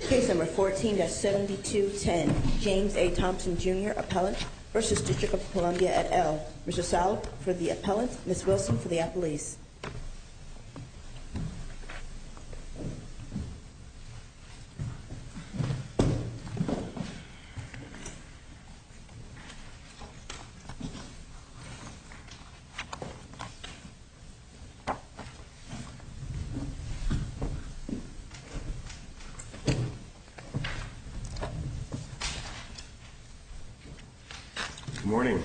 Case No. 14-7210, James A. Thompson, Jr. Appellant v. District of Columbia et al. Mr. Salop for the appellant, Ms. Wilson for the appellees. Good morning.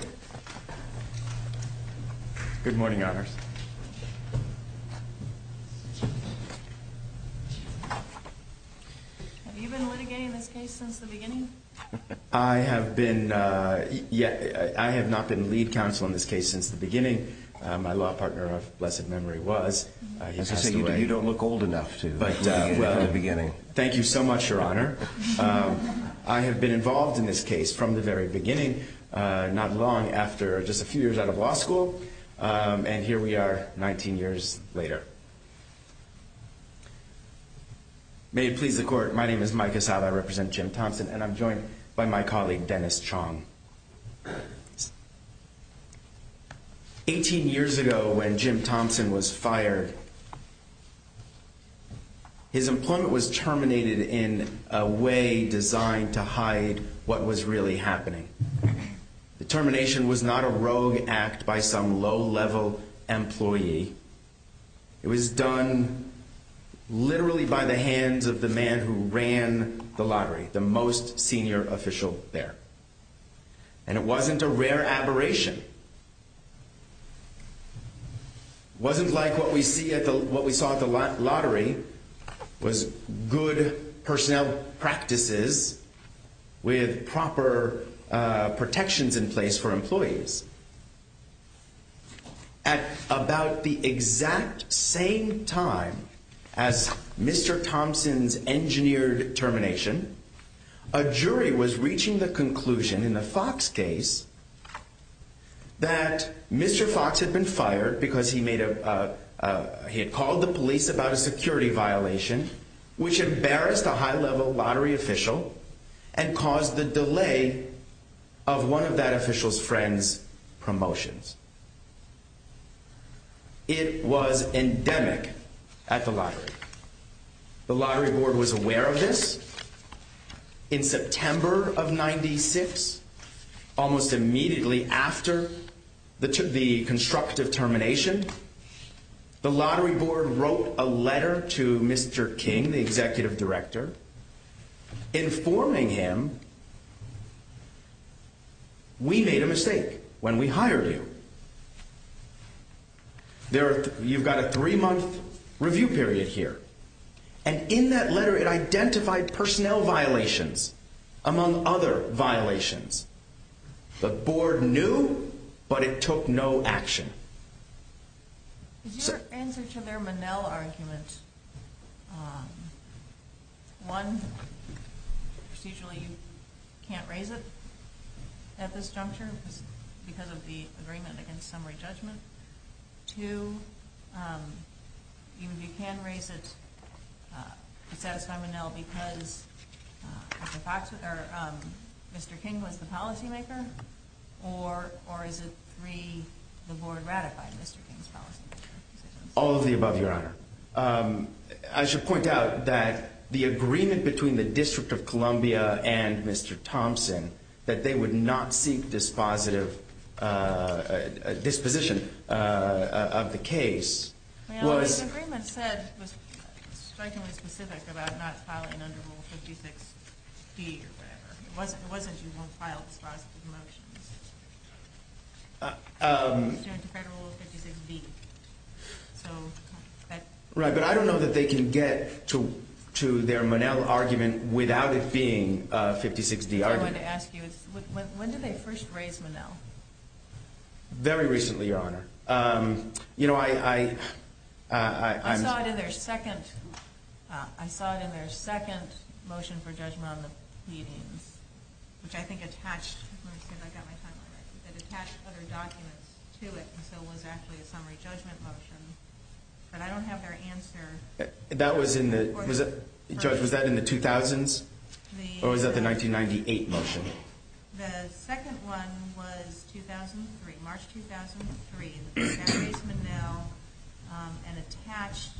Good morning, Honors. Have you been litigating this case since the beginning? I have not been lead counsel in this case since the beginning. My law partner, if blessed memory was. You don't look old enough. Thank you so much, Your Honor. I have been involved in this case from the very beginning, not long after, just a few years out of law school, and here we are 19 years later. May it please the court, my name is Mike Asaba, I represent fired. His employment was terminated in a way designed to hide what was really happening. The termination was not a rogue act by some low-level employee. It was done literally by the hands of the man who ran the lottery, the most senior official there. And it wasn't a rare aberration. It wasn't like what we saw at the lottery was good personnel practices with proper protections in place for employees. At about the exact same time as Mr. Thompson's termination, a jury was reaching the conclusion in the Fox case that Mr. Fox had been fired because he had called the police about a security violation which embarrassed a high-level lottery official and caused the delay of one of that official's friend's promotions. It was endemic at the lottery. The lottery board was aware of this. In September of 96, almost immediately after the constructive termination, the lottery board wrote a letter to Mr. King, the executive here. And in that letter, it identified personnel violations among other violations. The board knew, but it took no action. Is your answer to their Manel argument, one, procedurally you can't raise it at this juncture because of the agreement against summary judgment? Two, you can raise it to satisfy Manel because Mr. King was the policymaker? Or is it three, the board ratified Mr. King's policymaker? All of the above, Your Honor. I should point out that the agreement between the District of Columbia and Mr. Thompson that they would not seek disposition of the case was... Manel, the agreement said, was strikingly specific about not filing under Rule 56B or whatever. It wasn't you won't file dispositive motions under Federal Rule 56B. Right, but I don't know that they can get to their Manel argument without it being a 56D argument. I wanted to ask you, when did they first raise Manel? Very recently, Your Honor. I saw it in their second motion for judgment on the pleadings, which I think attached other documents to it, so it was actually a summary judgment motion. But I don't have their answer. That was in the... Judge, was that in the 2000s? Or was that the 1998 motion? The second one was 2003, March 2003. They raised Manel and attached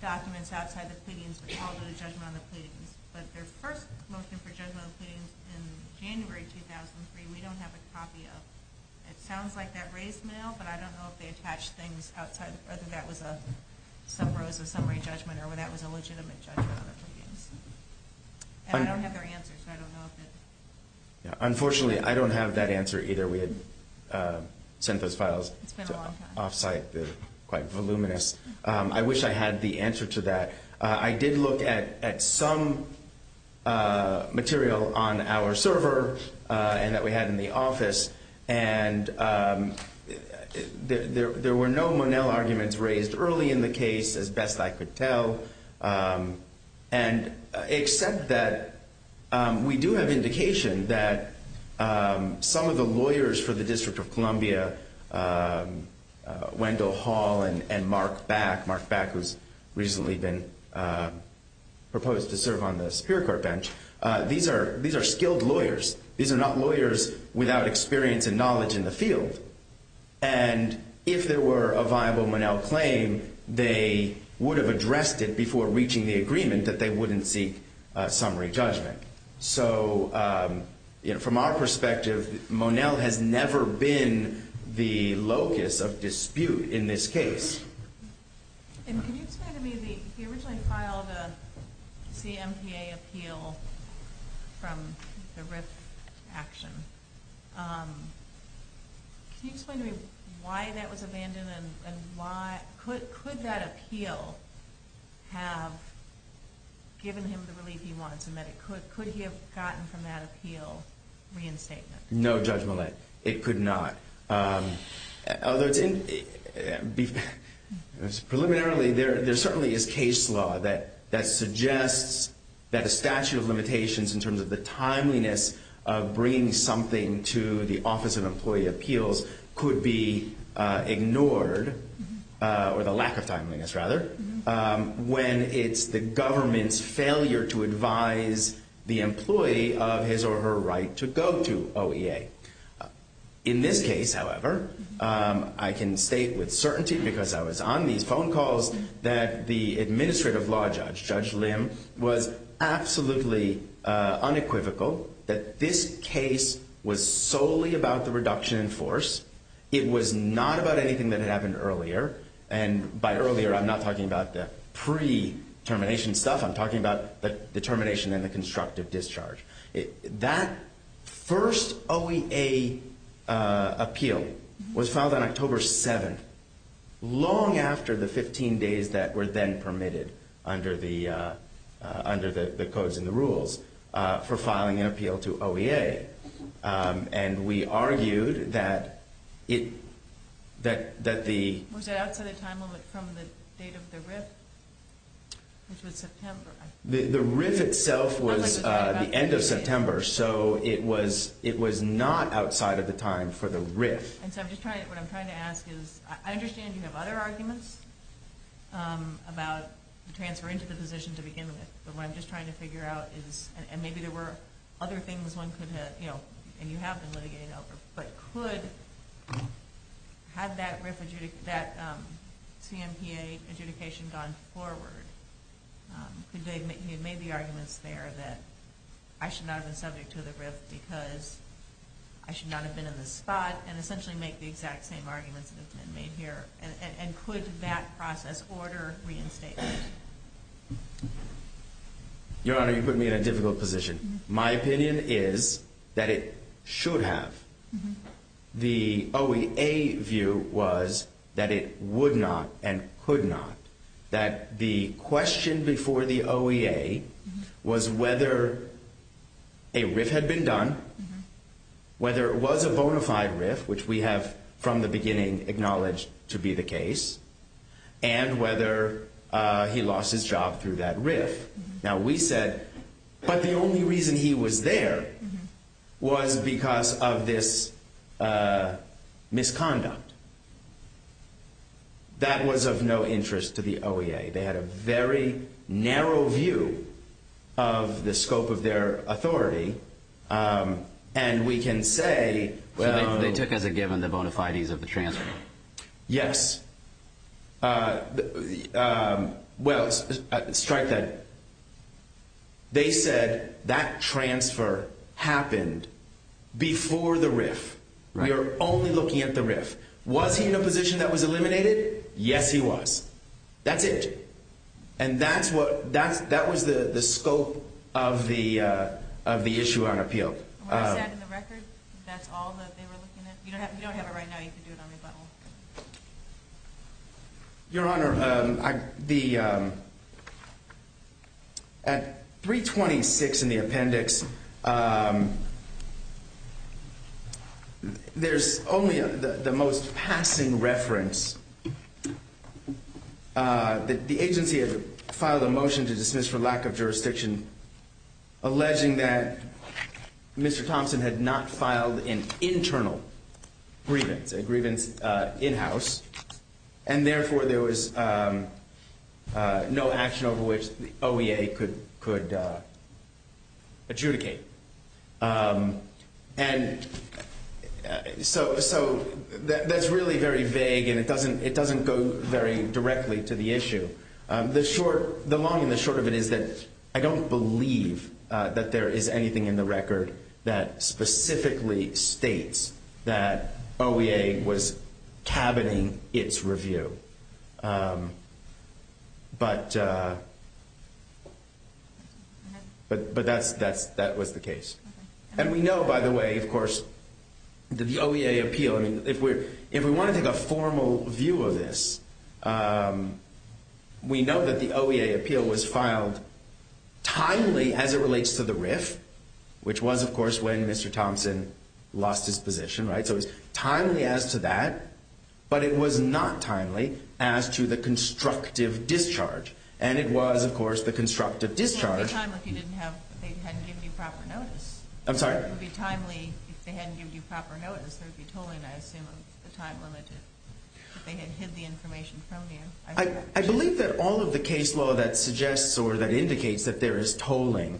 documents outside the pleadings that called it a judgment on the pleadings. But their first motion for judgment on the pleadings in January 2003, we don't have a copy of. It sounds like that raised Manel, but I don't know if they attached things outside, whether that was some rows of summary judgment or whether that was a legitimate judgment on the pleadings. And I don't have their answer, so I don't know if it... Unfortunately, I don't have that answer either. We had sent those files off-site. It's been a long time. I wish I had the answer to that. I did look at some material on our server and that we had in the office, and there were no Manel arguments raised early in the case, as best I could tell, except that we do have indication that some of the lawyers for the District of Columbia, Wendell Hall and Mark Back, Mark Back who's recently been proposed to serve on the Superior Court bench, these are skilled lawyers. These are not lawyers without experience and knowledge in the field. And if there were a viable Manel claim, they would have addressed it before reaching the agreement that they wouldn't seek summary judgment. So from our perspective, Manel has never been the locus of dispute in this case. And can you explain to me, he originally filed a CMPA appeal from the RIF action. Can you explain to me why that was abandoned and why... Could that appeal have given him the relief he wanted to make? Could he have gotten from that appeal reinstatement? No, Judge Millett, it could not. Preliminarily, there certainly is case law that suggests that a statute of limitations in terms of the timeliness of bringing something to the Office of Employee Appeals could be ignored, or the lack of timeliness rather, when it's the government's failure to advise the employee of his or her right to go to OEA. In this case, however, I can state with certainty because I was on these phone calls that the Administrative Law Judge, Judge Lim, was absolutely unequivocal that this case was solely about the reduction in force. It was not about anything that had happened earlier. And by earlier, I'm not talking about the pre-termination stuff. I'm talking about the determination and the constructive discharge. That first OEA appeal was filed on October 7th, long after the 15 days that were then permitted under the codes and the rules for filing an The RIF itself was the end of September, so it was not outside of the time for the RIF. And so what I'm trying to ask is, I understand you have other arguments about the transfer into the position to begin with, but what I'm just trying to figure out is, and maybe there were other things one could have, and you have been litigated over, but could have that CMPA adjudication gone forward? Could they have made the arguments there that I should not have been subject to the RIF because I should not have been in the spot, and essentially make the exact same arguments that have been made here? And could that process order reinstatement? Your Honor, you put me in a difficult position. My opinion is that it should have. The OEA view was that it would not and could not. That the question before the OEA was whether a RIF had been done, whether it was a bona fide RIF, which we have from the beginning acknowledged to be the case, and whether he lost his job through that RIF. Now we said, but the only reason he was there was because of this misconduct. That was of no interest to the OEA. They had a very narrow view of the scope of their authority, and we can say, they took as a given the bona fides of the transfer. Yes. Well, strike that. They said that transfer happened before the RIF. We are only looking at the RIF. Was he in a position that was eliminated? Yes, he was. That's it. And that was the scope of the issue on appeal. And what I said in the record, that's all that they were looking at? You don't have it right now, you can do it on rebuttal. Your Honor, at 326 in the appendix, there's only the most passing reference that the agency had filed a motion to dismiss for lack of jurisdiction, alleging that Mr. Thompson had not filed an internal grievance, a grievance in-house, and therefore there was no action over which the OEA could adjudicate. And so that's really very vague, and it doesn't go very directly to the issue. The long and the short of it is that I don't believe that there is anything in the record that specifically states that OEA was cabining its review. But that was the case. And we know, by the way, of course, the OEA appeal, if we want to take a formal view of this, we know that the OEA appeal was filed timely as it relates to the RIF, which was, of course, when Mr. Thompson lost his position. So it was timely as to that, but it was not timely as to the constructive discharge. And it was, of course, the constructive discharge. It wouldn't be timely if they hadn't given you proper notice. I'm sorry? It would be timely if they hadn't given you proper notice. There would be tolling, I assume, of the time limited, if they had hid the information from you. I believe that all of the case law that suggests or that indicates that there is tolling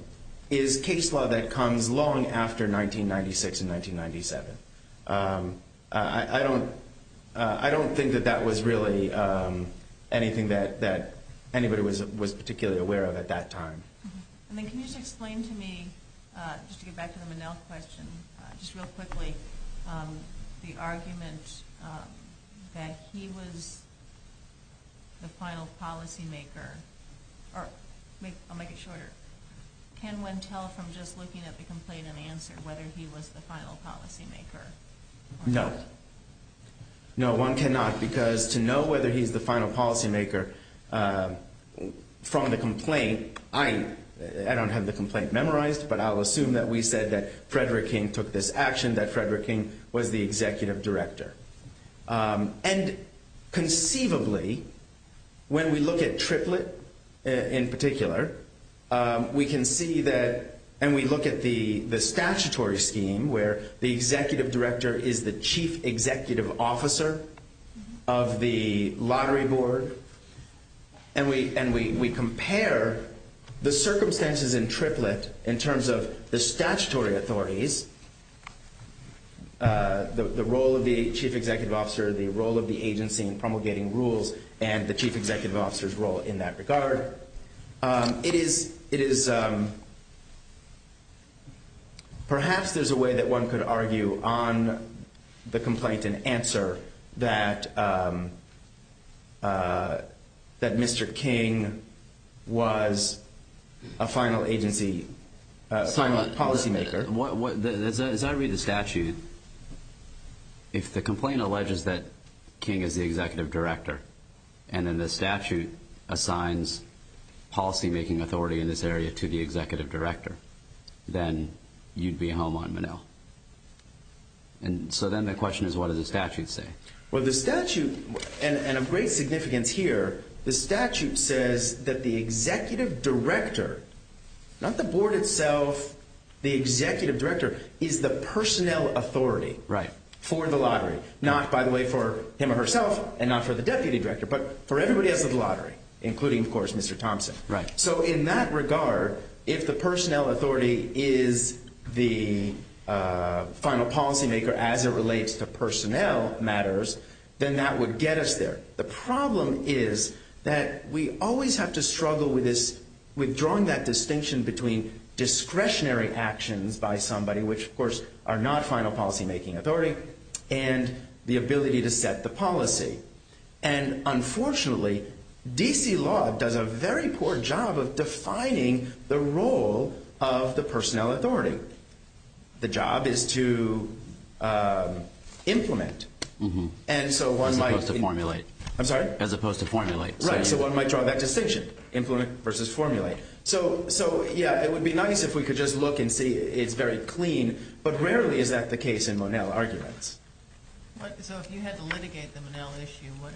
is case law that comes long after 1996 and 1997. I don't think that that was really anything that anybody was particularly aware of at that time. And then can you just explain to me, just to get back to the Monell question, just real quickly, the argument that he was the final policymaker, or I'll make it shorter, can one tell from just looking at the complaint and answer whether he was the final policymaker? No. No, one cannot, because to know whether he's the final policymaker from the complaint, I don't have the complaint memorized, but I'll assume that we said that Frederick King took this action, that Frederick King was the executive director. And conceivably, when we look at Triplett in particular, we can see that, and we look at the statutory scheme where the executive director is the chief executive officer of the lottery board, and we compare the circumstances in Triplett in terms of the statutory authorities, the role of the chief executive officer, the role of the agency in promulgating rules, and the chief executive officer's role in that regard. It is, perhaps there's a way that one could argue on the complaint and answer that Mr. King was a final agency, a final policymaker. As I read the statute, if the complaint alleges that King is the executive director, and then the statute assigns policymaking authority in this area to the executive director, then you'd be home on Menil. And so then the question is, what does the statute say? Well, the statute, and of great significance here, the statute says that the executive director, not the board itself, the executive director, is the personnel authority for the lottery, not, by the way, for him or herself and not for the deputy director, but for everybody else at the lottery, including, of course, Mr. Thompson. So in that regard, if the personnel authority is the final policymaker as it relates to personnel matters, then that would get us there. The problem is that we always have to struggle with this, with drawing that distinction between discretionary actions by somebody, which, of course, are not final policymaking authority, and the ability to set the policy. And unfortunately, D.C. law does a very poor job of defining the role of the personnel authority. The job is to implement. And so one might. As opposed to formulate. I'm sorry? As opposed to formulate. Right, so one might draw that distinction, implement versus formulate. So, yeah, it would be nice if we could just look and see it's very clean, but rarely is that the case in Monell arguments. So if you had to litigate the Monell issue, what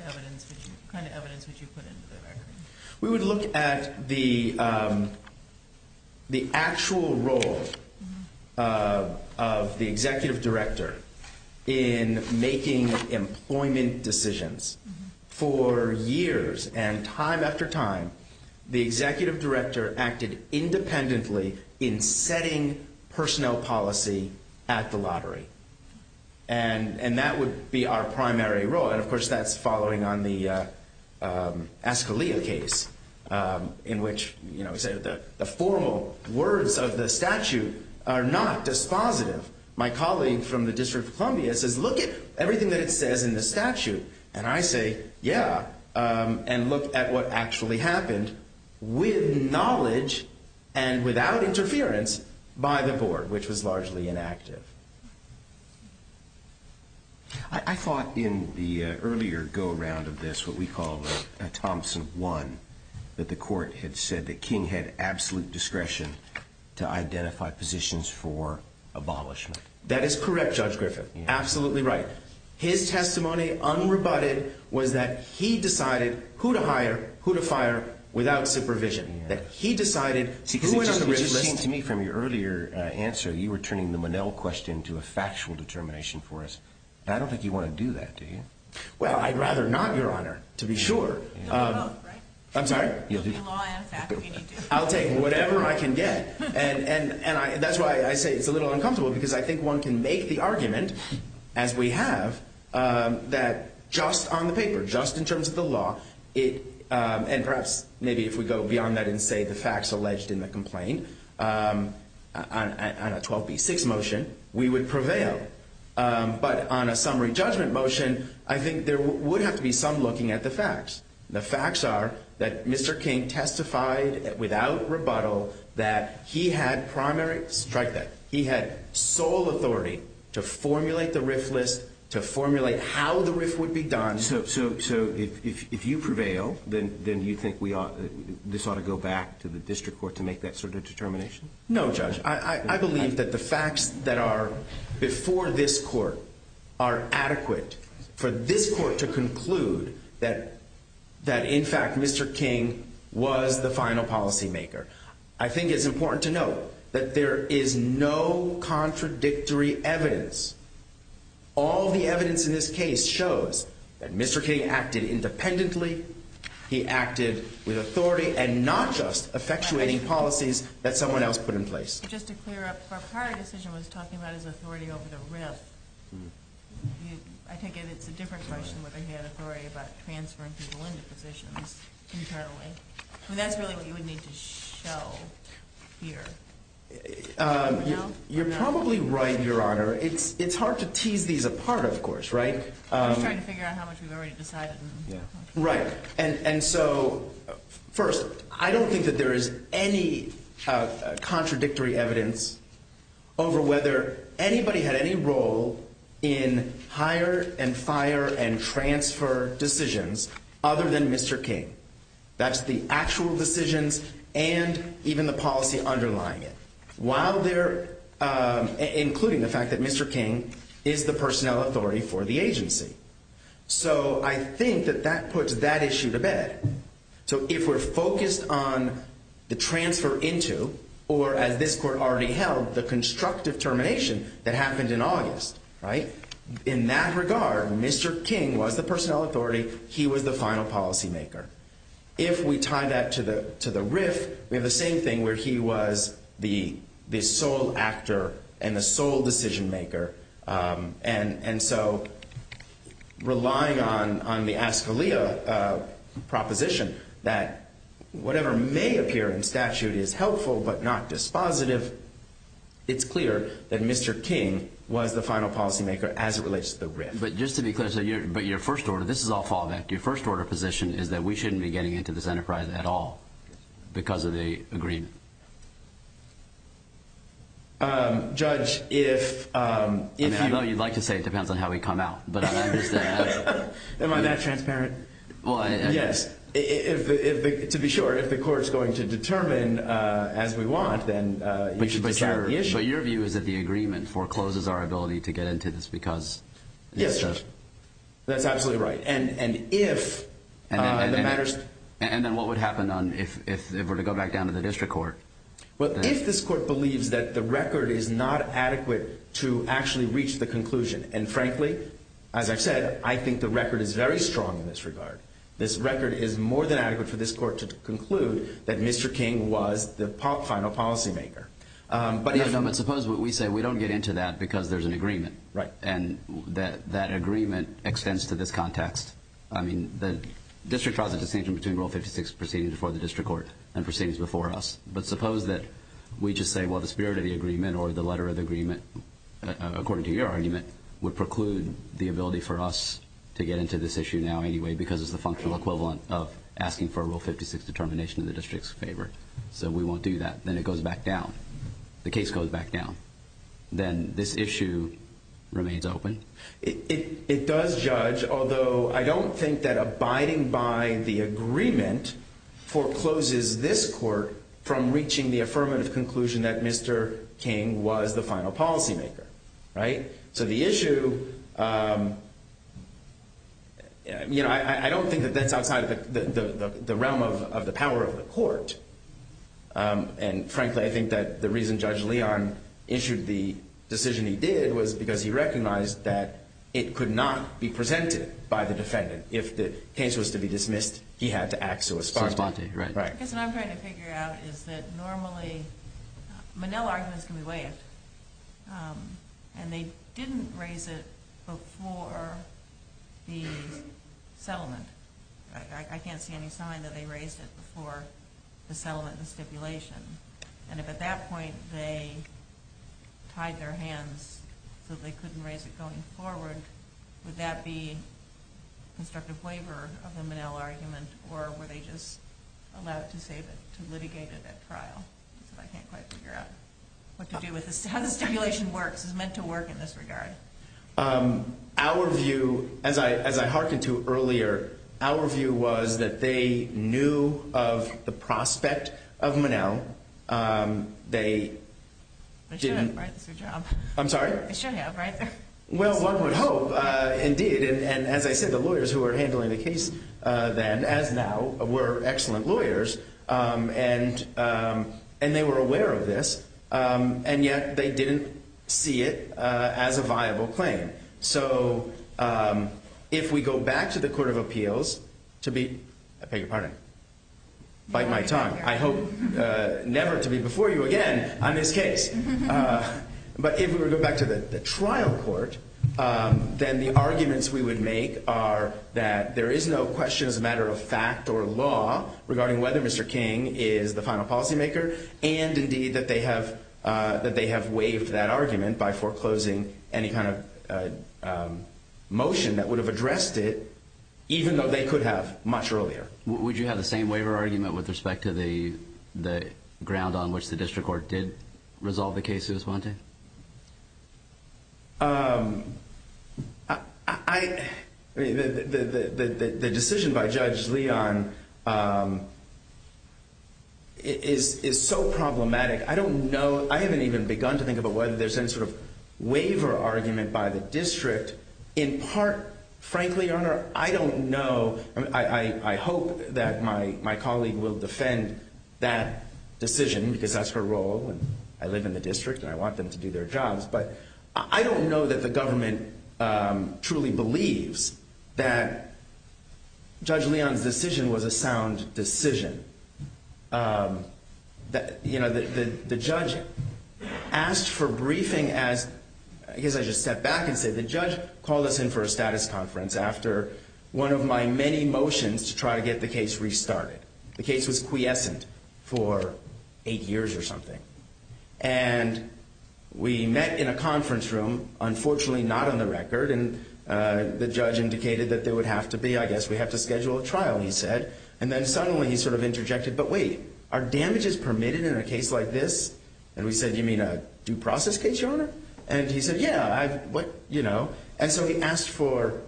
kind of evidence would you put into the record? We would look at the actual role of the executive director in making employment decisions. For years and time after time, the executive director acted independently in setting personnel policy at the lottery. And that would be our primary role. And, of course, that's following on the Ascalia case in which, you know, the formal words of the statute are not dispositive. My colleague from the District of Columbia says, look at everything that it says in the statute. And I say, yeah, and look at what actually happened with knowledge and without interference by the board, which was largely inactive. I thought in the earlier go round of this, what we call Thompson one, that the court had said that King had absolute discretion to identify positions for abolishment. That is correct, Judge Griffin. Absolutely right. His testimony, unrebutted, was that he decided who to hire, who to fire, without supervision. That he decided who went on the risk list. It just seemed to me from your earlier answer, you were turning the Monell question to a factual determination for us. I don't think you want to do that, do you? Well, I'd rather not, Your Honor, to be sure. You'll do both, right? I'm sorry? You'll do law and fact. I'll take whatever I can get. And that's why I say it's a little uncomfortable, because I think one can make the argument, as we have, that just on the paper, just in terms of the law, and perhaps maybe if we go beyond that and say the facts alleged in the complaint, on a 12B6 motion, we would prevail. But on a summary judgment motion, I think there would have to be some looking at the facts. The facts are that Mr. King testified without rebuttal that he had primary – strike that – he had sole authority to formulate the risk list, to formulate how the risk would be done. So if you prevail, then you think this ought to go back to the district court to make that sort of determination? No, Judge. I believe that the facts that are before this court are adequate for this court to conclude that, in fact, Mr. King was the final policymaker. I think it's important to note that there is no contradictory evidence. All the evidence in this case shows that Mr. King acted independently. He acted with authority and not just effectuating policies that someone else put in place. Just to clear up, our prior decision was talking about his authority over the RIF. I take it it's a different question whether he had authority about transferring people into positions internally. I mean, that's really what you would need to show here. You're probably right, Your Honor. It's hard to tease these apart, of course, right? I'm just trying to figure out how much we've already decided. Right. And so, first, I don't think that there is any contradictory evidence over whether anybody had any role in hire and fire and transfer decisions other than Mr. King. That's the actual decisions and even the policy underlying it. Including the fact that Mr. King is the personnel authority for the agency. So I think that that puts that issue to bed. So if we're focused on the transfer into or, as this court already held, the constructive termination that happened in August, right? In that regard, Mr. King was the personnel authority. He was the final policymaker. If we tie that to the RIF, we have the same thing where he was the sole actor and the sole decision maker. And so relying on the Ascalia proposition that whatever may appear in statute is helpful but not dispositive, it's clear that Mr. King was the final policymaker as it relates to the RIF. But just to be clear, but your first order, this is all fallback. Your first order of position is that we shouldn't be getting into this enterprise at all because of the agreement. Judge, if… I know you'd like to say it depends on how we come out. Am I that transparent? Yes. To be sure, if the court's going to determine as we want, then you should decide the issue. So your view is that the agreement forecloses our ability to get into this because… Yes, Judge. That's absolutely right. And if… And then what would happen if we were to go back down to the district court? Well, if this court believes that the record is not adequate to actually reach the conclusion, and frankly, as I've said, I think the record is very strong in this regard. This record is more than adequate for this court to conclude that Mr. King was the final policymaker. But suppose what we say, we don't get into that because there's an agreement. Right. And that agreement extends to this context. I mean, the district draws a distinction between Rule 56 proceeding before the district court and proceedings before us. But suppose that we just say, well, the spirit of the agreement or the letter of the agreement, according to your argument, would preclude the ability for us to get into this issue now anyway because it's the functional equivalent of asking for a Rule 56 determination in the district's favor. So we won't do that. Then it goes back down. The case goes back down. Then this issue remains open. It does judge, although I don't think that abiding by the agreement forecloses this court from reaching the affirmative conclusion that Mr. King was the final policymaker. Right. So the issue, you know, I don't think that that's outside of the realm of the power of the court. And, frankly, I think that the reason Judge Leon issued the decision he did was because he recognized that it could not be presented by the defendant. If the case was to be dismissed, he had to act so as far as possible. Right. What I'm trying to figure out is that normally Manel arguments can be waived, and they didn't raise it before the settlement. I can't see any sign that they raised it before the settlement and stipulation. And if at that point they tied their hands so they couldn't raise it going forward, would that be constructive waiver of the Manel argument, or were they just allowed to save it, to litigate it at trial? I can't quite figure out what to do with this. How the stipulation works is meant to work in this regard. Our view, as I hearkened to earlier, our view was that they knew of the prospect of Manel. They didn't. They should have, right? I'm sorry? They should have, right? Well, one would hope, indeed. And as I said, the lawyers who were handling the case then, as now, were excellent lawyers, and they were aware of this, and yet they didn't see it as a viable claim. So if we go back to the Court of Appeals to be, I beg your pardon, bite my tongue. I hope never to be before you again on this case. But if we were to go back to the trial court, then the arguments we would make are that there is no question as a matter of fact or law regarding whether Mr. King is the final policymaker, and indeed that they have waived that argument by foreclosing any kind of motion that would have addressed it, even though they could have much earlier. Would you have the same waiver argument with respect to the ground on which the district court did resolve the case, Suez Montaigne? I mean, the decision by Judge Leon is so problematic, I don't know. I haven't even begun to think about whether there's any sort of waiver argument by the district. In part, frankly, Your Honor, I don't know. I hope that my colleague will defend that decision, because that's her role, and I live in the district, and I want them to do their jobs. But I don't know that the government truly believes that Judge Leon's decision was a sound decision. You know, the judge asked for briefing as – I guess I should step back and say the judge called us in for a status conference after one of my many motions to try to get the case restarted. The case was quiescent for eight years or something. And we met in a conference room, unfortunately not on the record, and the judge indicated that there would have to be – I guess we have to schedule a trial, he said. And then suddenly he sort of interjected, but wait, are damages permitted in a case like this? And we said, you mean a due process case, Your Honor? And he said, yeah, you know. And so he asked for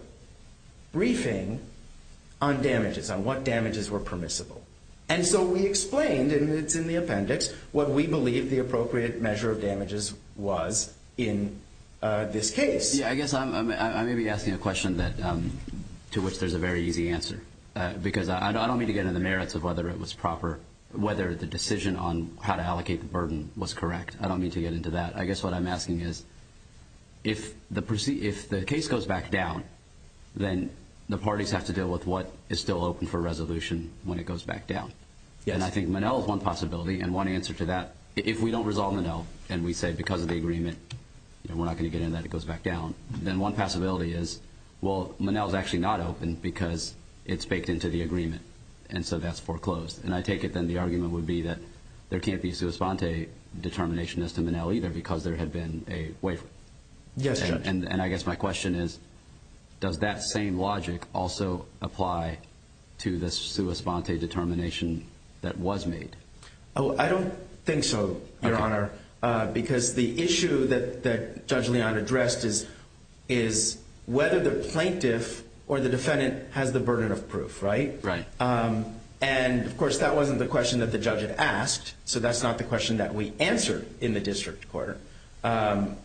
briefing on damages, on what damages were permissible. And so we explained, and it's in the appendix, what we believe the appropriate measure of damages was in this case. Yeah, I guess I may be asking a question that – to which there's a very easy answer. Because I don't mean to get into the merits of whether it was proper – whether the decision on how to allocate the burden was correct. I don't mean to get into that. I guess what I'm asking is if the case goes back down, then the parties have to deal with what is still open for resolution when it goes back down. And I think Monell is one possibility and one answer to that. If we don't resolve Monell and we say because of the agreement, we're not going to get into that, it goes back down, then one possibility is, well, Monell is actually not open because it's baked into the agreement. And so that's foreclosed. And I take it then the argument would be that there can't be a sua sponte determination as to Monell either because there had been a waiver. Yes, Judge. And I guess my question is, does that same logic also apply to the sua sponte determination that was made? I don't think so, Your Honor, because the issue that Judge Leon addressed is whether the plaintiff or the defendant has the burden of proof, right? Right. And, of course, that wasn't the question that the judge had asked, so that's not the question that we answered in the district court. And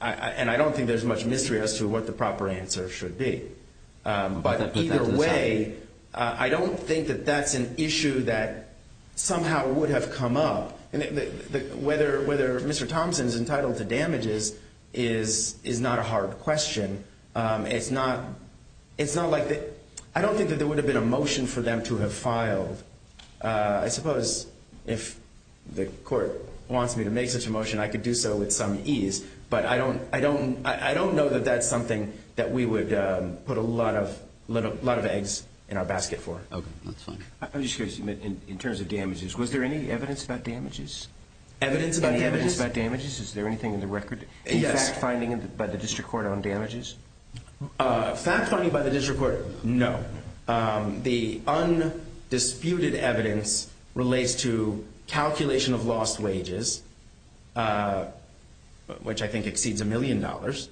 I don't think there's much mystery as to what the proper answer should be. But either way, I don't think that that's an issue that somehow would have come up. Whether Mr. Thompson is entitled to damages is not a hard question. It's not like the ‑‑ I don't think that there would have been a motion for them to have filed. I suppose if the court wants me to make such a motion, I could do so with some ease. But I don't know that that's something that we would put a lot of eggs in our basket for. Okay, that's fine. I'm just curious, in terms of damages, was there any evidence about damages? Evidence about damages? Any evidence about damages? Is there anything in the record? Yes. In fact finding by the district court on damages? Fact finding by the district court, no. The undisputed evidence relates to calculation of lost wages, which I think exceeds a million dollars,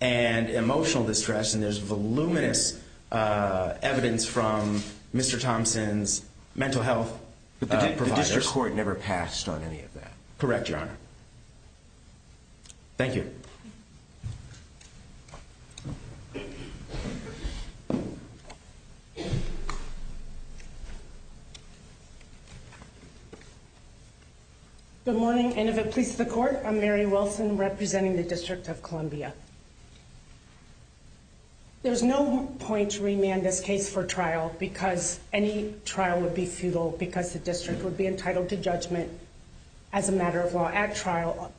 and emotional distress, and there's voluminous evidence from Mr. Thompson's mental health providers. But the district court never passed on any of that. Correct, Your Honor. Thank you. Good morning, and if it pleases the court, I'm Mary Wilson, representing the District of Columbia. There's no point to remand this case for trial because any trial would be futile because the district would be entitled to judgment as a matter of law at trial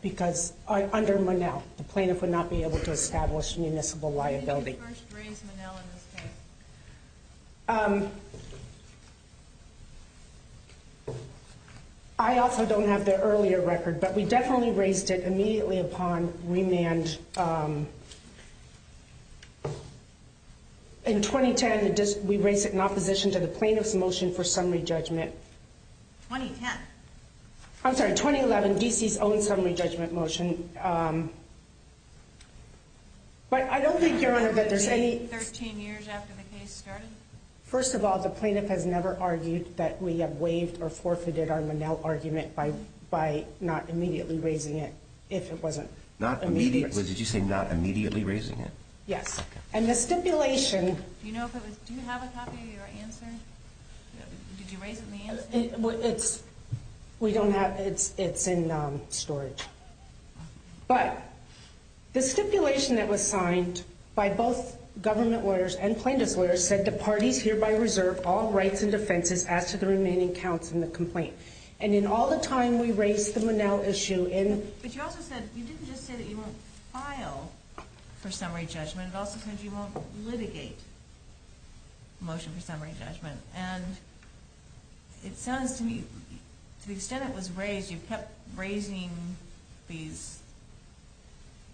under Monell. The plaintiff would not be able to establish municipal liability. When did you first raise Monell in this case? I also don't have the earlier record, but we definitely raised it immediately upon remand. In 2010, we raised it in opposition to the plaintiff's motion for summary judgment. 2010? I'm sorry, 2011, D.C.'s own summary judgment motion. But I don't think, Your Honor, that there's any— Was it 13 years after the case started? First of all, the plaintiff has never argued that we have waived or forfeited our Monell argument by not immediately raising it if it wasn't immediately raised. Not immediately? Did you say not immediately raising it? Yes, and the stipulation— Do you have a copy of your answer? Did you raise it in the answer? We don't have—it's in storage. But the stipulation that was signed by both government lawyers and plaintiff's lawyers said the parties hereby reserve all rights and defenses as to the remaining counts in the complaint. And in all the time we raised the Monell issue in— But you also said—you didn't just say that you won't file for summary judgment. It also said you won't litigate the motion for summary judgment. And it sounds to me, to the extent it was raised, you kept raising these—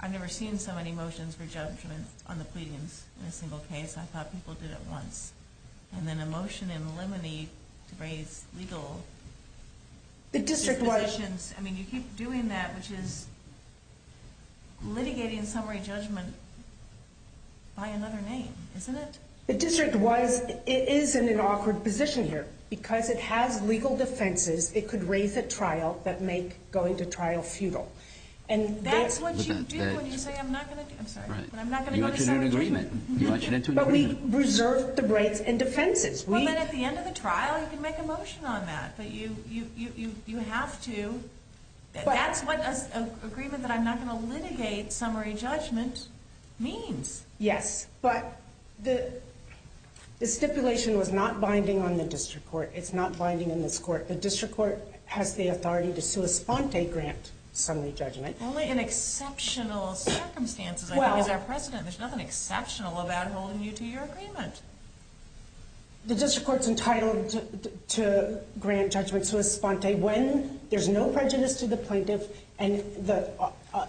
I've never seen so many motions for judgment on the pleadings in a single case. I thought people did it once. And then a motion in limine to raise legal— The district was— I mean, you keep doing that, which is litigating summary judgment by another name, isn't it? The district was—it is in an awkward position here. Because it has legal defenses, it could raise a trial that make going to trial futile. And that's what you do when you say I'm not going to do—I'm sorry. When I'm not going to go to summary judgment. But we reserve the rights and defenses. Well, then at the end of the trial, you can make a motion on that. But you have to—that's what an agreement that I'm not going to litigate summary judgment means. Yes. But the stipulation was not binding on the district court. It's not binding in this court. The district court has the authority to sua sponte grant summary judgment. Only in exceptional circumstances, I think, as our president. There's nothing exceptional about holding you to your agreement. The district court's entitled to grant judgment sua sponte when there's no prejudice to the plaintiff and the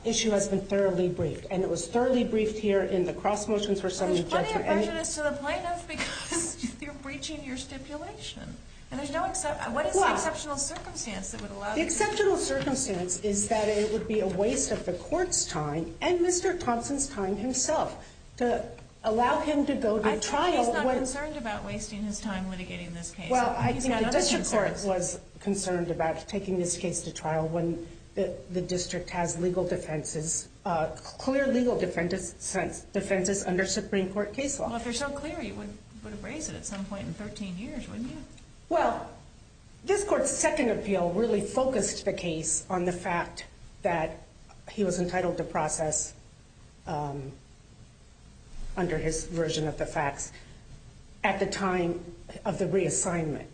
issue has been thoroughly briefed. And it was thoroughly briefed here in the cross motions for summary judgment. But there's plenty of prejudice to the plaintiff because you're breaching your stipulation. And there's no—what is the exceptional circumstance that would allow you to— Well, the exceptional circumstance is that it would be a waste of the court's time and Mr. Thompson's time himself to allow him to go to trial when— I think he's not concerned about wasting his time litigating this case. Well, I think the district court was concerned about taking this case to trial when the district has legal defenses, clear legal defenses under Supreme Court case law. Well, if they're so clear, you would have raised it at some point in 13 years, wouldn't you? Well, this court's second appeal really focused the case on the fact that he was entitled to process under his version of the facts at the time of the reassignment.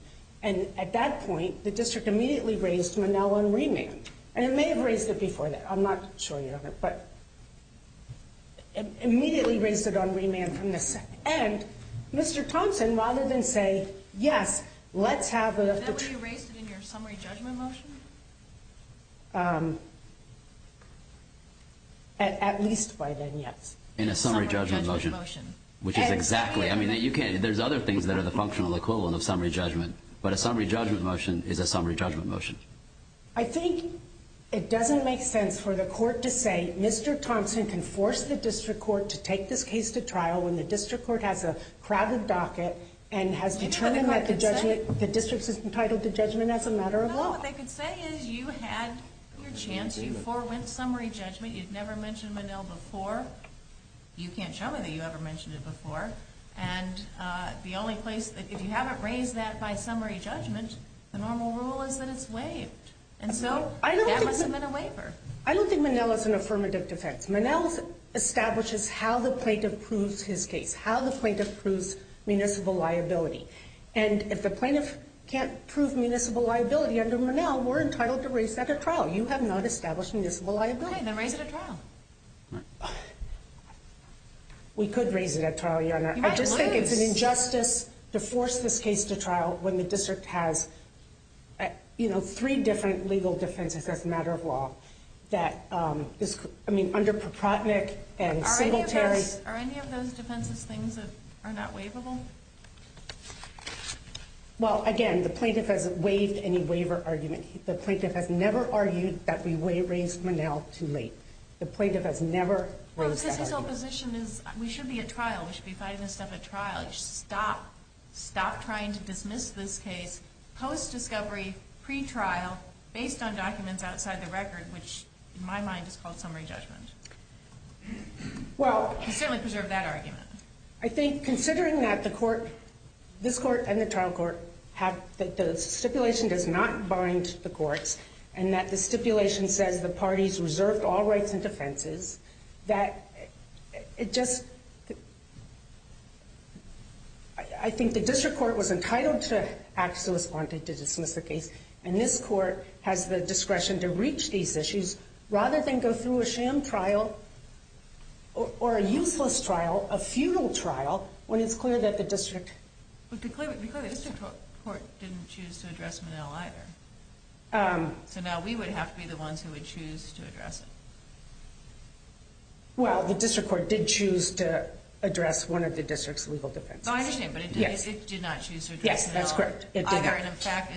And at that point, the district immediately raised Monell on remand. And it may have raised it before that. I'm not sure yet. But immediately raised it on remand from the— And Mr. Thompson, rather than say, yes, let's have— Then would you have raised it in your summary judgment motion? At least by then, yes. In a summary judgment motion. Summary judgment motion. Which is exactly—I mean, you can't— But a summary judgment motion is a summary judgment motion. I think it doesn't make sense for the court to say Mr. Thompson can force the district court to take this case to trial when the district court has a crowded docket and has determined that the district is entitled to judgment as a matter of law. No, what they could say is you had your chance. You forewent summary judgment. You'd never mentioned Monell before. You can't show me that you ever mentioned it before. And the only place—if you haven't raised that by summary judgment, the normal rule is that it's waived. And so that must have been a waiver. I don't think Monell is an affirmative defense. Monell establishes how the plaintiff proves his case, how the plaintiff proves municipal liability. And if the plaintiff can't prove municipal liability under Monell, we're entitled to raise that at trial. You have not established municipal liability. Okay, then raise it at trial. We could raise it at trial, Your Honor. I just think it's an injustice to force this case to trial when the district has, you know, three different legal defenses as a matter of law that is—I mean, under Propotnick and Singletary— Are any of those defenses things that are not waivable? Well, again, the plaintiff hasn't waived any waiver argument. The plaintiff has never argued that we raised Monell too late. The plaintiff has never raised that argument. Well, because his opposition is, we should be at trial. We should be fighting this stuff at trial. Stop trying to dismiss this case post-discovery, pre-trial, based on documents outside the record, which, in my mind, is called summary judgment. He certainly preserved that argument. I think, considering that the court—this court and the trial court— that the stipulation does not bind the courts and that the stipulation says the parties reserved all rights and defenses, that it just—I think the district court was entitled to act to respond to dismiss the case, and this court has the discretion to reach these issues rather than go through a sham trial or a useless trial, a futile trial, when it's clear that the district— Well, because the district court didn't choose to address Monell either. So now we would have to be the ones who would choose to address it. Well, the district court did choose to address one of the district's legal defenses. Oh, I understand, but it did not choose to address Monell. Yes, that's correct. It did not. Either, and in fact,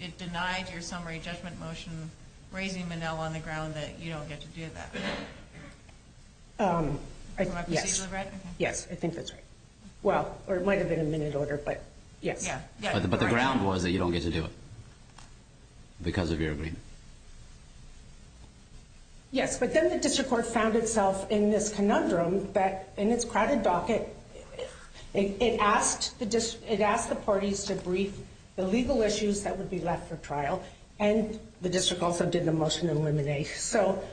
it denied your summary judgment motion, raising Monell on the ground that you don't get to do that. Yes. Yes, I think that's right. Well, or it might have been a minute order, but yes. Yeah. But the ground was that you don't get to do it because of your agreement. Yes, but then the district court found itself in this conundrum that, in its crowded docket, it asked the parties to brief the legal issues that would be left for trial, and the district also did the motion to eliminate. So,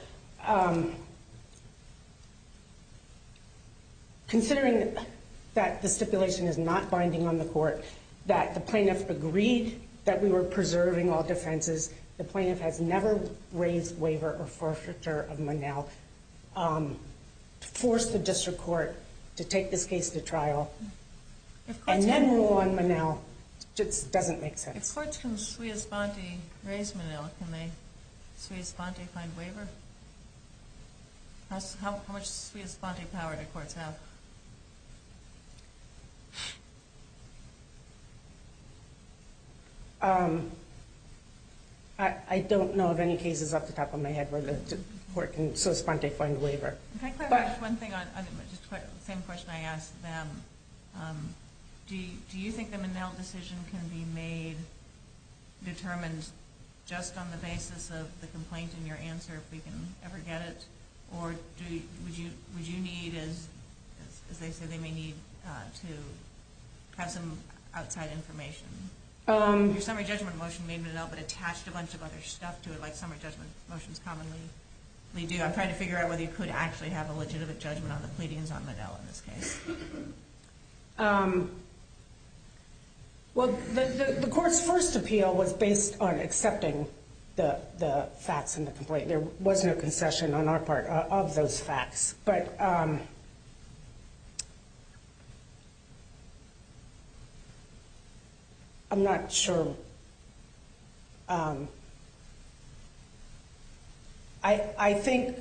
considering that the stipulation is not binding on the court, that the plaintiff agreed that we were preserving all defenses, the plaintiff has never raised waiver or forfeiture of Monell, forced the district court to take this case to trial, and then rule on Monell, just doesn't make sense. If courts can sui es ponte, raise Monell, can they sui es ponte find waiver? How much sui es ponte power do courts have? I don't know of any cases off the top of my head where the court can sui es ponte find waiver. Can I clarify just one thing on the same question I asked them? Do you think the Monell decision can be made determined just on the basis of the complaint and your answer, if we can ever get it? Or would you need, as they say they may need, to have some outside information? Your summary judgment motion made Monell but attached a bunch of other stuff to it like summary judgment motions commonly do. I'm trying to figure out whether you could actually have a legitimate judgment on the pleadings on Monell in this case. Well, the court's first appeal was based on accepting the facts in the complaint. There was no concession on our part of those facts. I'm not sure. I think,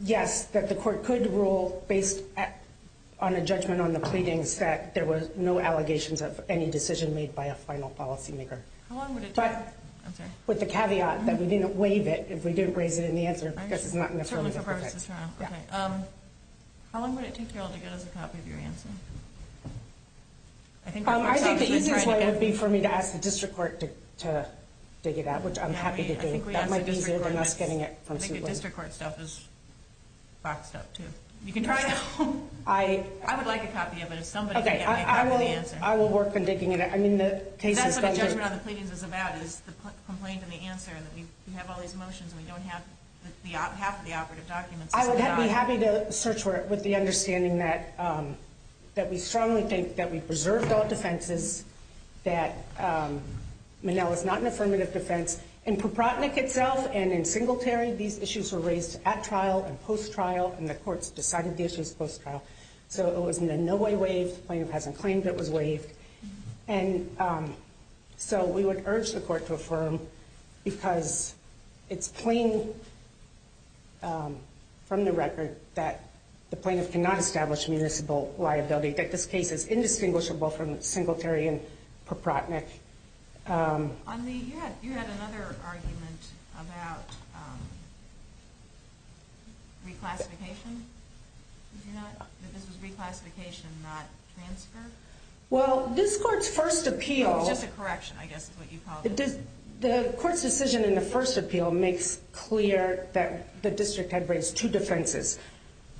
yes, that the court could rule based on a judgment on the pleadings that there were no allegations of any decision made by a final policymaker. How long would it take? With the caveat that we didn't waive it if we didn't raise it in the answer because it's not in the affirmative. How long would it take y'all to get us a copy of your answer? I think the easiest way would be for me to ask the district court to dig it up, which I'm happy to do. That might be easier than us getting it from Suitland. I think the district court stuff is boxed up, too. You can try it at home. I would like a copy of it if somebody can get me a copy of the answer. I will work on digging it up. That's what a judgment on the pleadings is about, is the complaint and the answer. We have all these motions and we don't have half of the operative documents. I would be happy to search for it with the understanding that we strongly think that we preserved all defenses, that Monell is not an affirmative defense. In Proprotnick itself and in Singletary, these issues were raised at trial and post-trial, and the courts decided the issue was post-trial. So it was in no way waived. The plaintiff hasn't claimed it was waived. And so we would urge the court to affirm, because it's plain from the record that the plaintiff cannot establish municipal liability, that this case is indistinguishable from Singletary and Proprotnick. You had another argument about reclassification. Did you not? That this was reclassification, not transfer? Well, this court's first appeal... It was just a correction, I guess, is what you called it. The court's decision in the first appeal makes clear that the district had raised two defenses.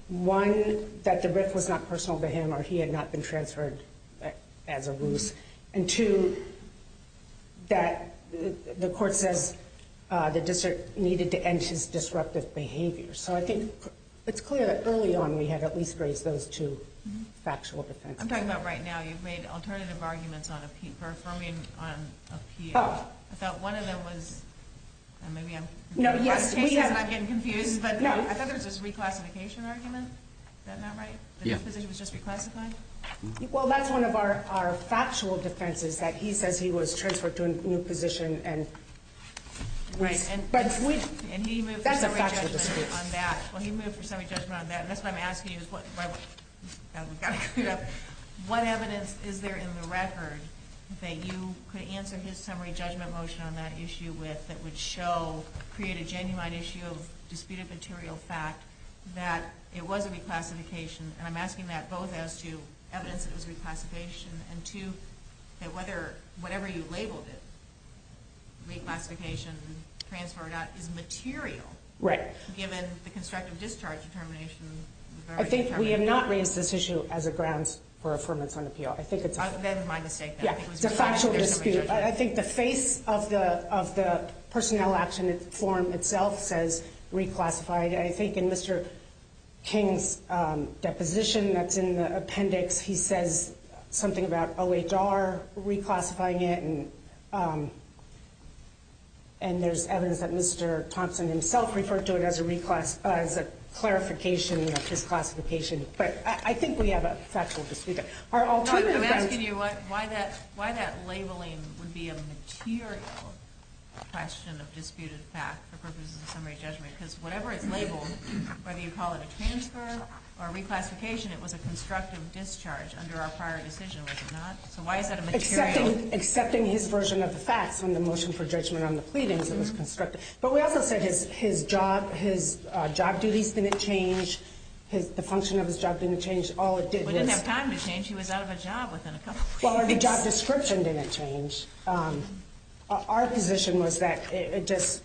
One, that the riff was not personal to him or he had not been transferred as a ruse. And two, that the court says the district needed to end his disruptive behavior. So I think it's clear that early on we had at least raised those two factual defenses. I'm talking about right now. You've made alternative arguments for affirming on appeal. I thought one of them was... Maybe I'm getting confused. I thought there was this reclassification argument. Is that not right? That this position was just reclassified? Well, that's one of our factual defenses, that he says he was transferred to a new position. Right. And he moved for summary judgment on that. Well, he moved for summary judgment on that. And that's what I'm asking you. What evidence is there in the record that you could answer his summary judgment motion on that issue with that would create a genuine issue of disputed material fact that it was a reclassification? And I'm asking that both as to evidence that it was reclassification and two, that whatever you labeled it, reclassification, transfer or not, is material given the constructive discharge determination. I think we have not raised this issue as a grounds for affirmance on appeal. I think it's a factual dispute. I think the face of the personnel action form itself says reclassified. I think in Mr. King's deposition that's in the appendix, he says something about OHR reclassifying it, and there's evidence that Mr. Thompson himself referred to it as a clarification of his classification. But I think we have a factual dispute. I'm asking you why that labeling would be a material question of disputed fact for purposes of summary judgment, because whatever it's labeled, whether you call it a transfer or reclassification, it was a constructive discharge under our prior decision, was it not? So why is that a material? Accepting his version of the facts on the motion for judgment on the pleadings, it was constructive. But we also said his job duties didn't change, the function of his job didn't change. We didn't have time to change. He was out of a job within a couple of weeks. Well, our job description didn't change. Our position was that it just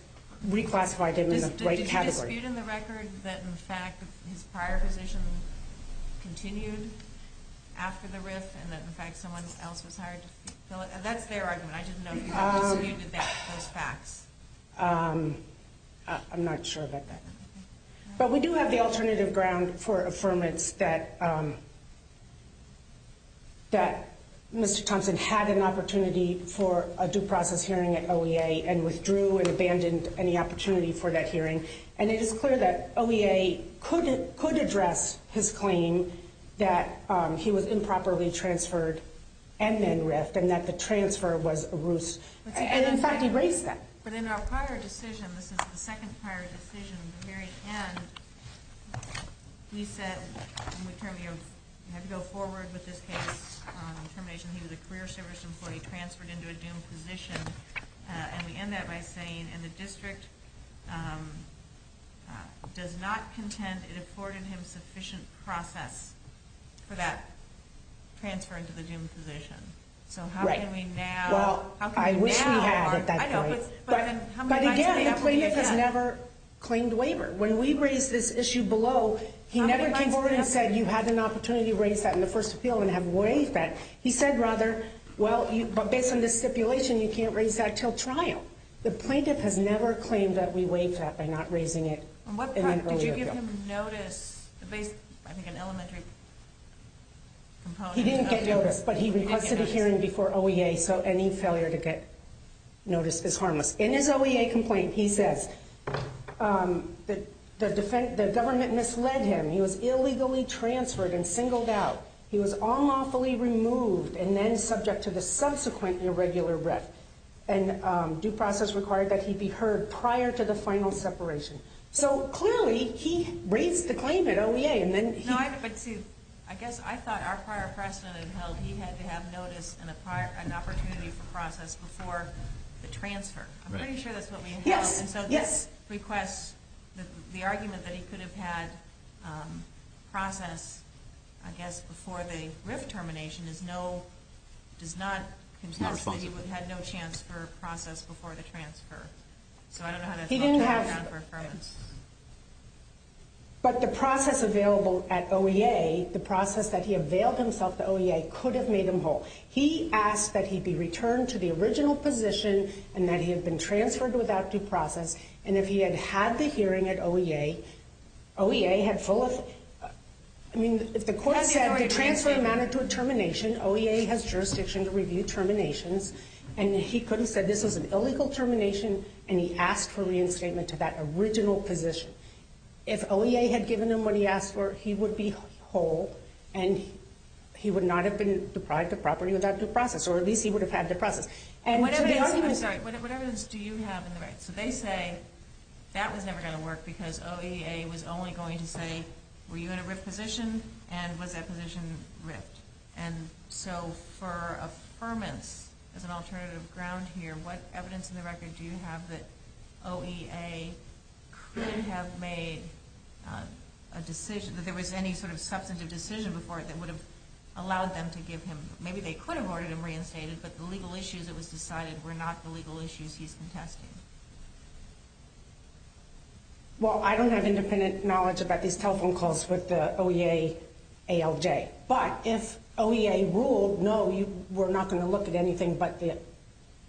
reclassified him in the right category. Is there a dispute in the record that, in fact, his prior position continued after the RIF, and that, in fact, someone else was hired to fill it? That's their argument. I just don't know if you have a dispute with those facts. I'm not sure about that. But we do have the alternative ground for affirmance that Mr. Thompson had an opportunity for a due process hearing at OEA and withdrew and abandoned any opportunity for that hearing. And it is clear that OEA could address his claim that he was improperly transferred and then RIF'd, and that the transfer was a ruse. And, in fact, he raised that. But in our prior decision, this is the second prior decision, at the very end, we said, we had to go forward with this case on termination. He was a career service employee transferred into a doomed position, and we end that by saying, and the district does not contend it afforded him sufficient process for that transfer into the doomed position. So how can we now? Well, I wish we had at that point. But again, the plaintiff has never claimed waiver. When we raised this issue below, he never came forward and said, you had an opportunity to raise that in the first appeal and have waived that. He said, rather, well, based on this stipulation, you can't raise that until trial. The plaintiff has never claimed that we waived that by not raising it. Did you give him notice? I think an elementary component. He didn't get notice, but he requested a hearing before OEA, so any failure to get notice is harmless. In his OEA complaint, he says, the government misled him. He was illegally transferred and singled out. He was unlawfully removed and then subject to the subsequent irregular ref, and due process required that he be heard prior to the final separation. So clearly, he raised the claim at OEA. I guess I thought our prior precedent had held he had to have notice and an opportunity for process before the transfer. I'm pretty sure that's what we had held. Yes, yes. So this requests the argument that he could have had process, I guess, before the ref termination is no, does not, he would have had no chance for process before the transfer. So I don't know how that's held to account for affirmance. But the process available at OEA, the process that he availed himself to OEA, could have made him whole. He asked that he be returned to the original position and that he had been transferred without due process. And if he had had the hearing at OEA, OEA had full of, I mean, if the court said to transfer a matter to a termination, OEA has jurisdiction to review terminations, and he could have said this was an illegal termination and he asked for reinstatement to that original position. If OEA had given him what he asked for, he would be whole and he would not have been deprived of property without due process, or at least he would have had due process. I'm sorry, what evidence do you have in the record? So they say that was never going to work because OEA was only going to say, were you in a rift position and was that position rift? And so for affirmance, as an alternative ground here, what evidence in the record do you have that OEA could have made a decision, that there was any sort of substantive decision before it that would have allowed them to give him, maybe they could have ordered him reinstated, but the legal issues it was decided were not the legal issues he's contesting? Well, I don't have independent knowledge about these telephone calls with the OEA ALJ. But if OEA ruled, no, we're not going to look at anything but the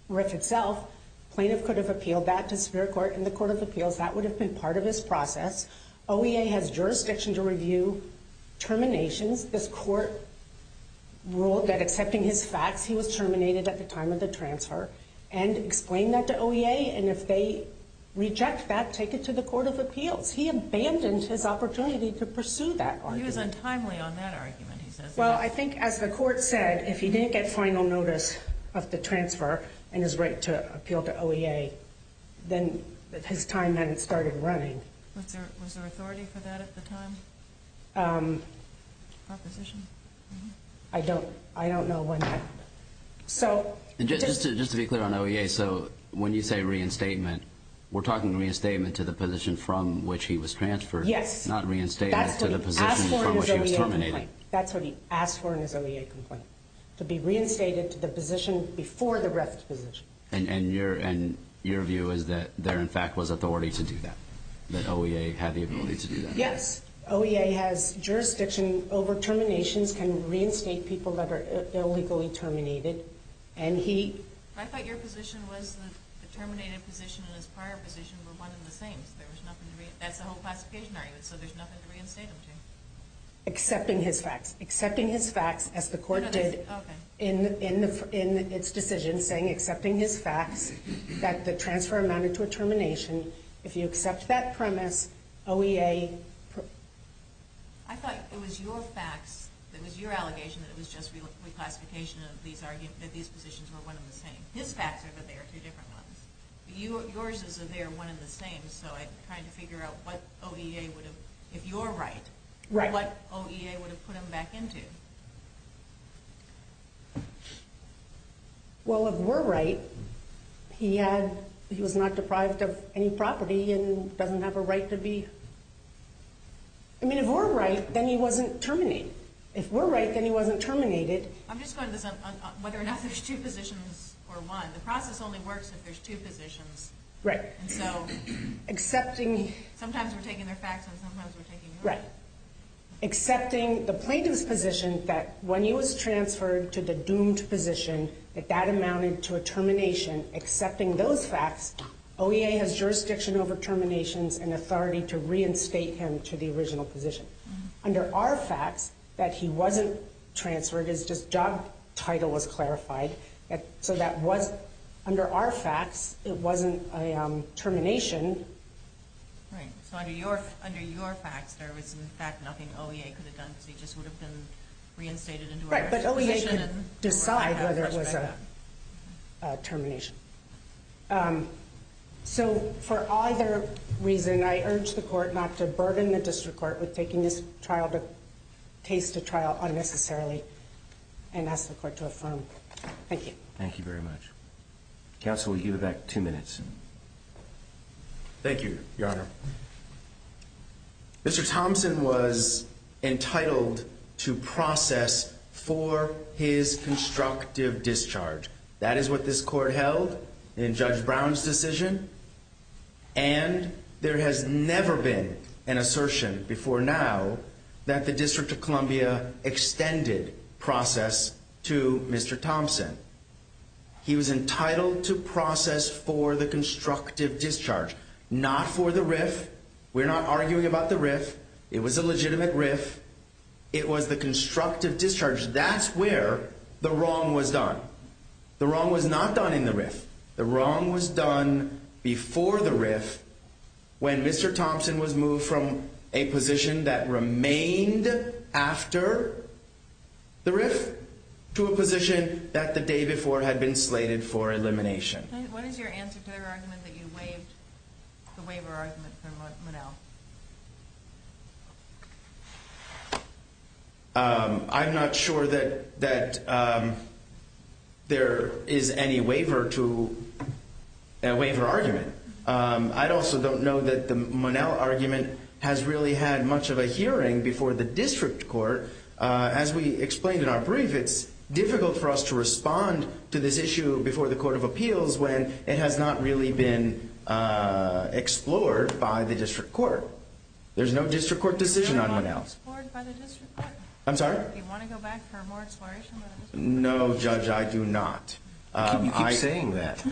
rift itself, plaintiff could have appealed that to Superior Court and the Court of Appeals, that would have been part of his process. OEA has jurisdiction to review terminations. This court ruled that accepting his facts, he was terminated at the time of the transfer and explained that to OEA, and if they reject that, take it to the Court of Appeals. He abandoned his opportunity to pursue that argument. He was untimely on that argument, he says. Well, I think as the court said, if he didn't get final notice of the transfer and his right to appeal to OEA, then his time then started running. Was there authority for that at the time? Proposition? I don't know when that happened. Just to be clear on OEA, so when you say reinstatement, we're talking reinstatement to the position from which he was transferred, not reinstatement to the position from which he was terminated. That's what he asked for in his OEA complaint, to be reinstated to the position before the rift position. And your view is that there, in fact, was authority to do that, that OEA had the ability to do that? Yes. OEA has jurisdiction over terminations, can reinstate people that are illegally terminated. I thought your position was the terminated position and his prior position were one and the same, so that's the whole classification argument, so there's nothing to reinstate him to. Accepting his facts. Accepting his facts, as the court did in its decision, saying accepting his facts, that the transfer amounted to a termination. If you accept that premise, OEA... I thought it was your facts, it was your allegation, that it was just reclassification of these positions were one and the same. His facts are that they are two different ones. Yours is that they are one and the same, so I'm trying to figure out what OEA would have, if you're right, what OEA would have put him back into. Well, if we're right, he was not deprived of any property and doesn't have a right to be... I mean, if we're right, then he wasn't terminated. If we're right, then he wasn't terminated. I'm just going to this on whether or not there's two positions or one. The process only works if there's two positions. Right. And so, sometimes we're taking their facts and sometimes we're taking yours. Right. Accepting the plaintiff's position that when he was transferred to the doomed position that that amounted to a termination, accepting those facts, OEA has jurisdiction over terminations and authority to reinstate him to the original position. Under our facts, that he wasn't transferred, his job title was clarified, so that was... Under our facts, it wasn't a termination. Right. So, under your facts, there was, in fact, nothing OEA could have done because he just would have been reinstated into our position... Right, but OEA could decide whether it was a termination. So, for either reason, I urge the court not to burden the district court with taking this trial to taste a trial unnecessarily and ask the court to affirm. Thank you. Thank you very much. Counsel, you have two minutes. Thank you, Your Honor. Mr Thompson was entitled to process for his constructive discharge. That is what this court held in Judge Brown's decision and there has never been an assertion before now that the District of Columbia extended process to Mr Thompson. He was entitled to process for the constructive discharge, not for the RIF. We're not arguing about the RIF. It was a legitimate RIF. It was the constructive discharge. That's where the wrong was done. The wrong was not done in the RIF. The wrong was done before the RIF when Mr Thompson was moved from a position that remained after the RIF to a position that the day before had been slated for elimination. What is your answer to their argument that you waived the waiver argument from Monell? I'm not sure that there is any waiver argument. I also don't know that the Monell argument has really had much of a hearing before the district court. As we explained in our brief, it's difficult for us to respond to this issue before the Court of Appeals when it has not really been explored by the district court. There's no district court decision on Monell. It's not explored by the district court. I'm sorry? Do you want to go back for more exploration? No, Judge, I do not. You keep saying that.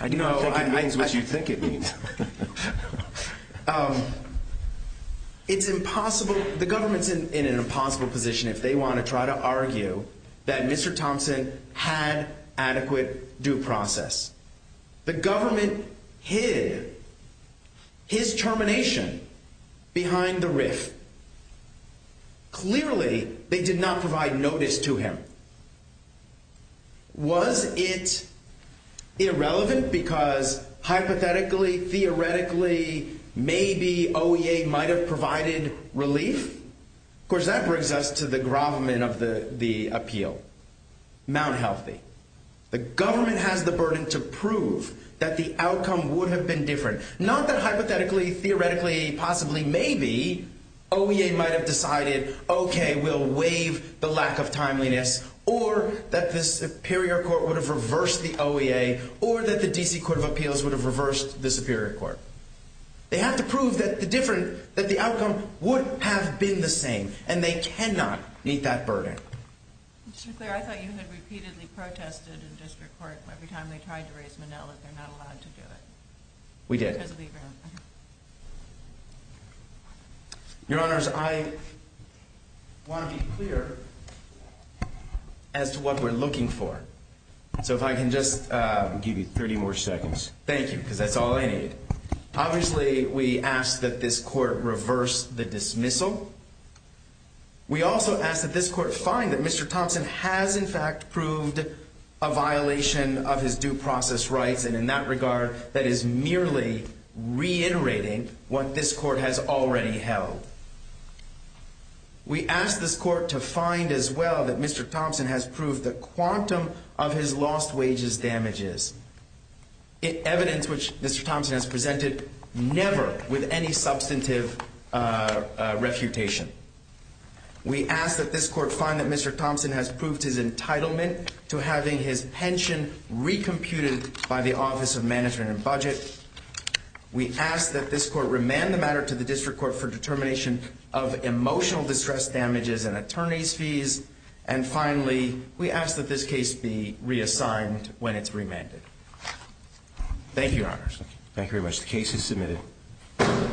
I do not think it means what you think it means. The government's in an impossible position if they want to try to argue that Mr Thompson had adequate due process. The government hid his termination behind the RIF. Clearly, they did not provide notice to him. Was it irrelevant because hypothetically, theoretically, maybe OEA might have provided relief? Of course, that brings us to the gravamen of the appeal. Mount healthy. The government has the burden to prove that the outcome would have been different. Not that hypothetically, theoretically, possibly, maybe, OEA might have decided, okay, we'll waive the lack of timeliness, or that the superior court would have reversed the OEA, or that the D.C. Court of Appeals would have reversed the superior court. They have to prove that the outcome would have been the same, and they cannot meet that burden. Mr. McClure, I thought you had repeatedly protested in district court every time they tried to raise Monell that they're not allowed to do it. We did. Your Honors, I want to be clear as to what we're looking for. So if I can just give you 30 more seconds. Thank you, because that's all I need. Obviously, we ask that this court reverse the dismissal. We also ask that this court find that Mr. Thompson has in fact proved a violation of his due process rights, and in that regard, that is merely reiterating what this court has already held. We ask this court to find as well that Mr. Thompson has proved the quantum of his lost wages damages. Evidence which Mr. Thompson has presented never with any substantive refutation. We ask that this court find that Mr. Thompson has proved his entitlement to having his pension recomputed by the Office of Management and Budget. We ask that this court remand the matter to the district court for determination of emotional distress damages and attorney's fees. And finally, we ask that this case be reassigned when it's remanded. Thank you, Your Honors. Thank you very much. The case is submitted.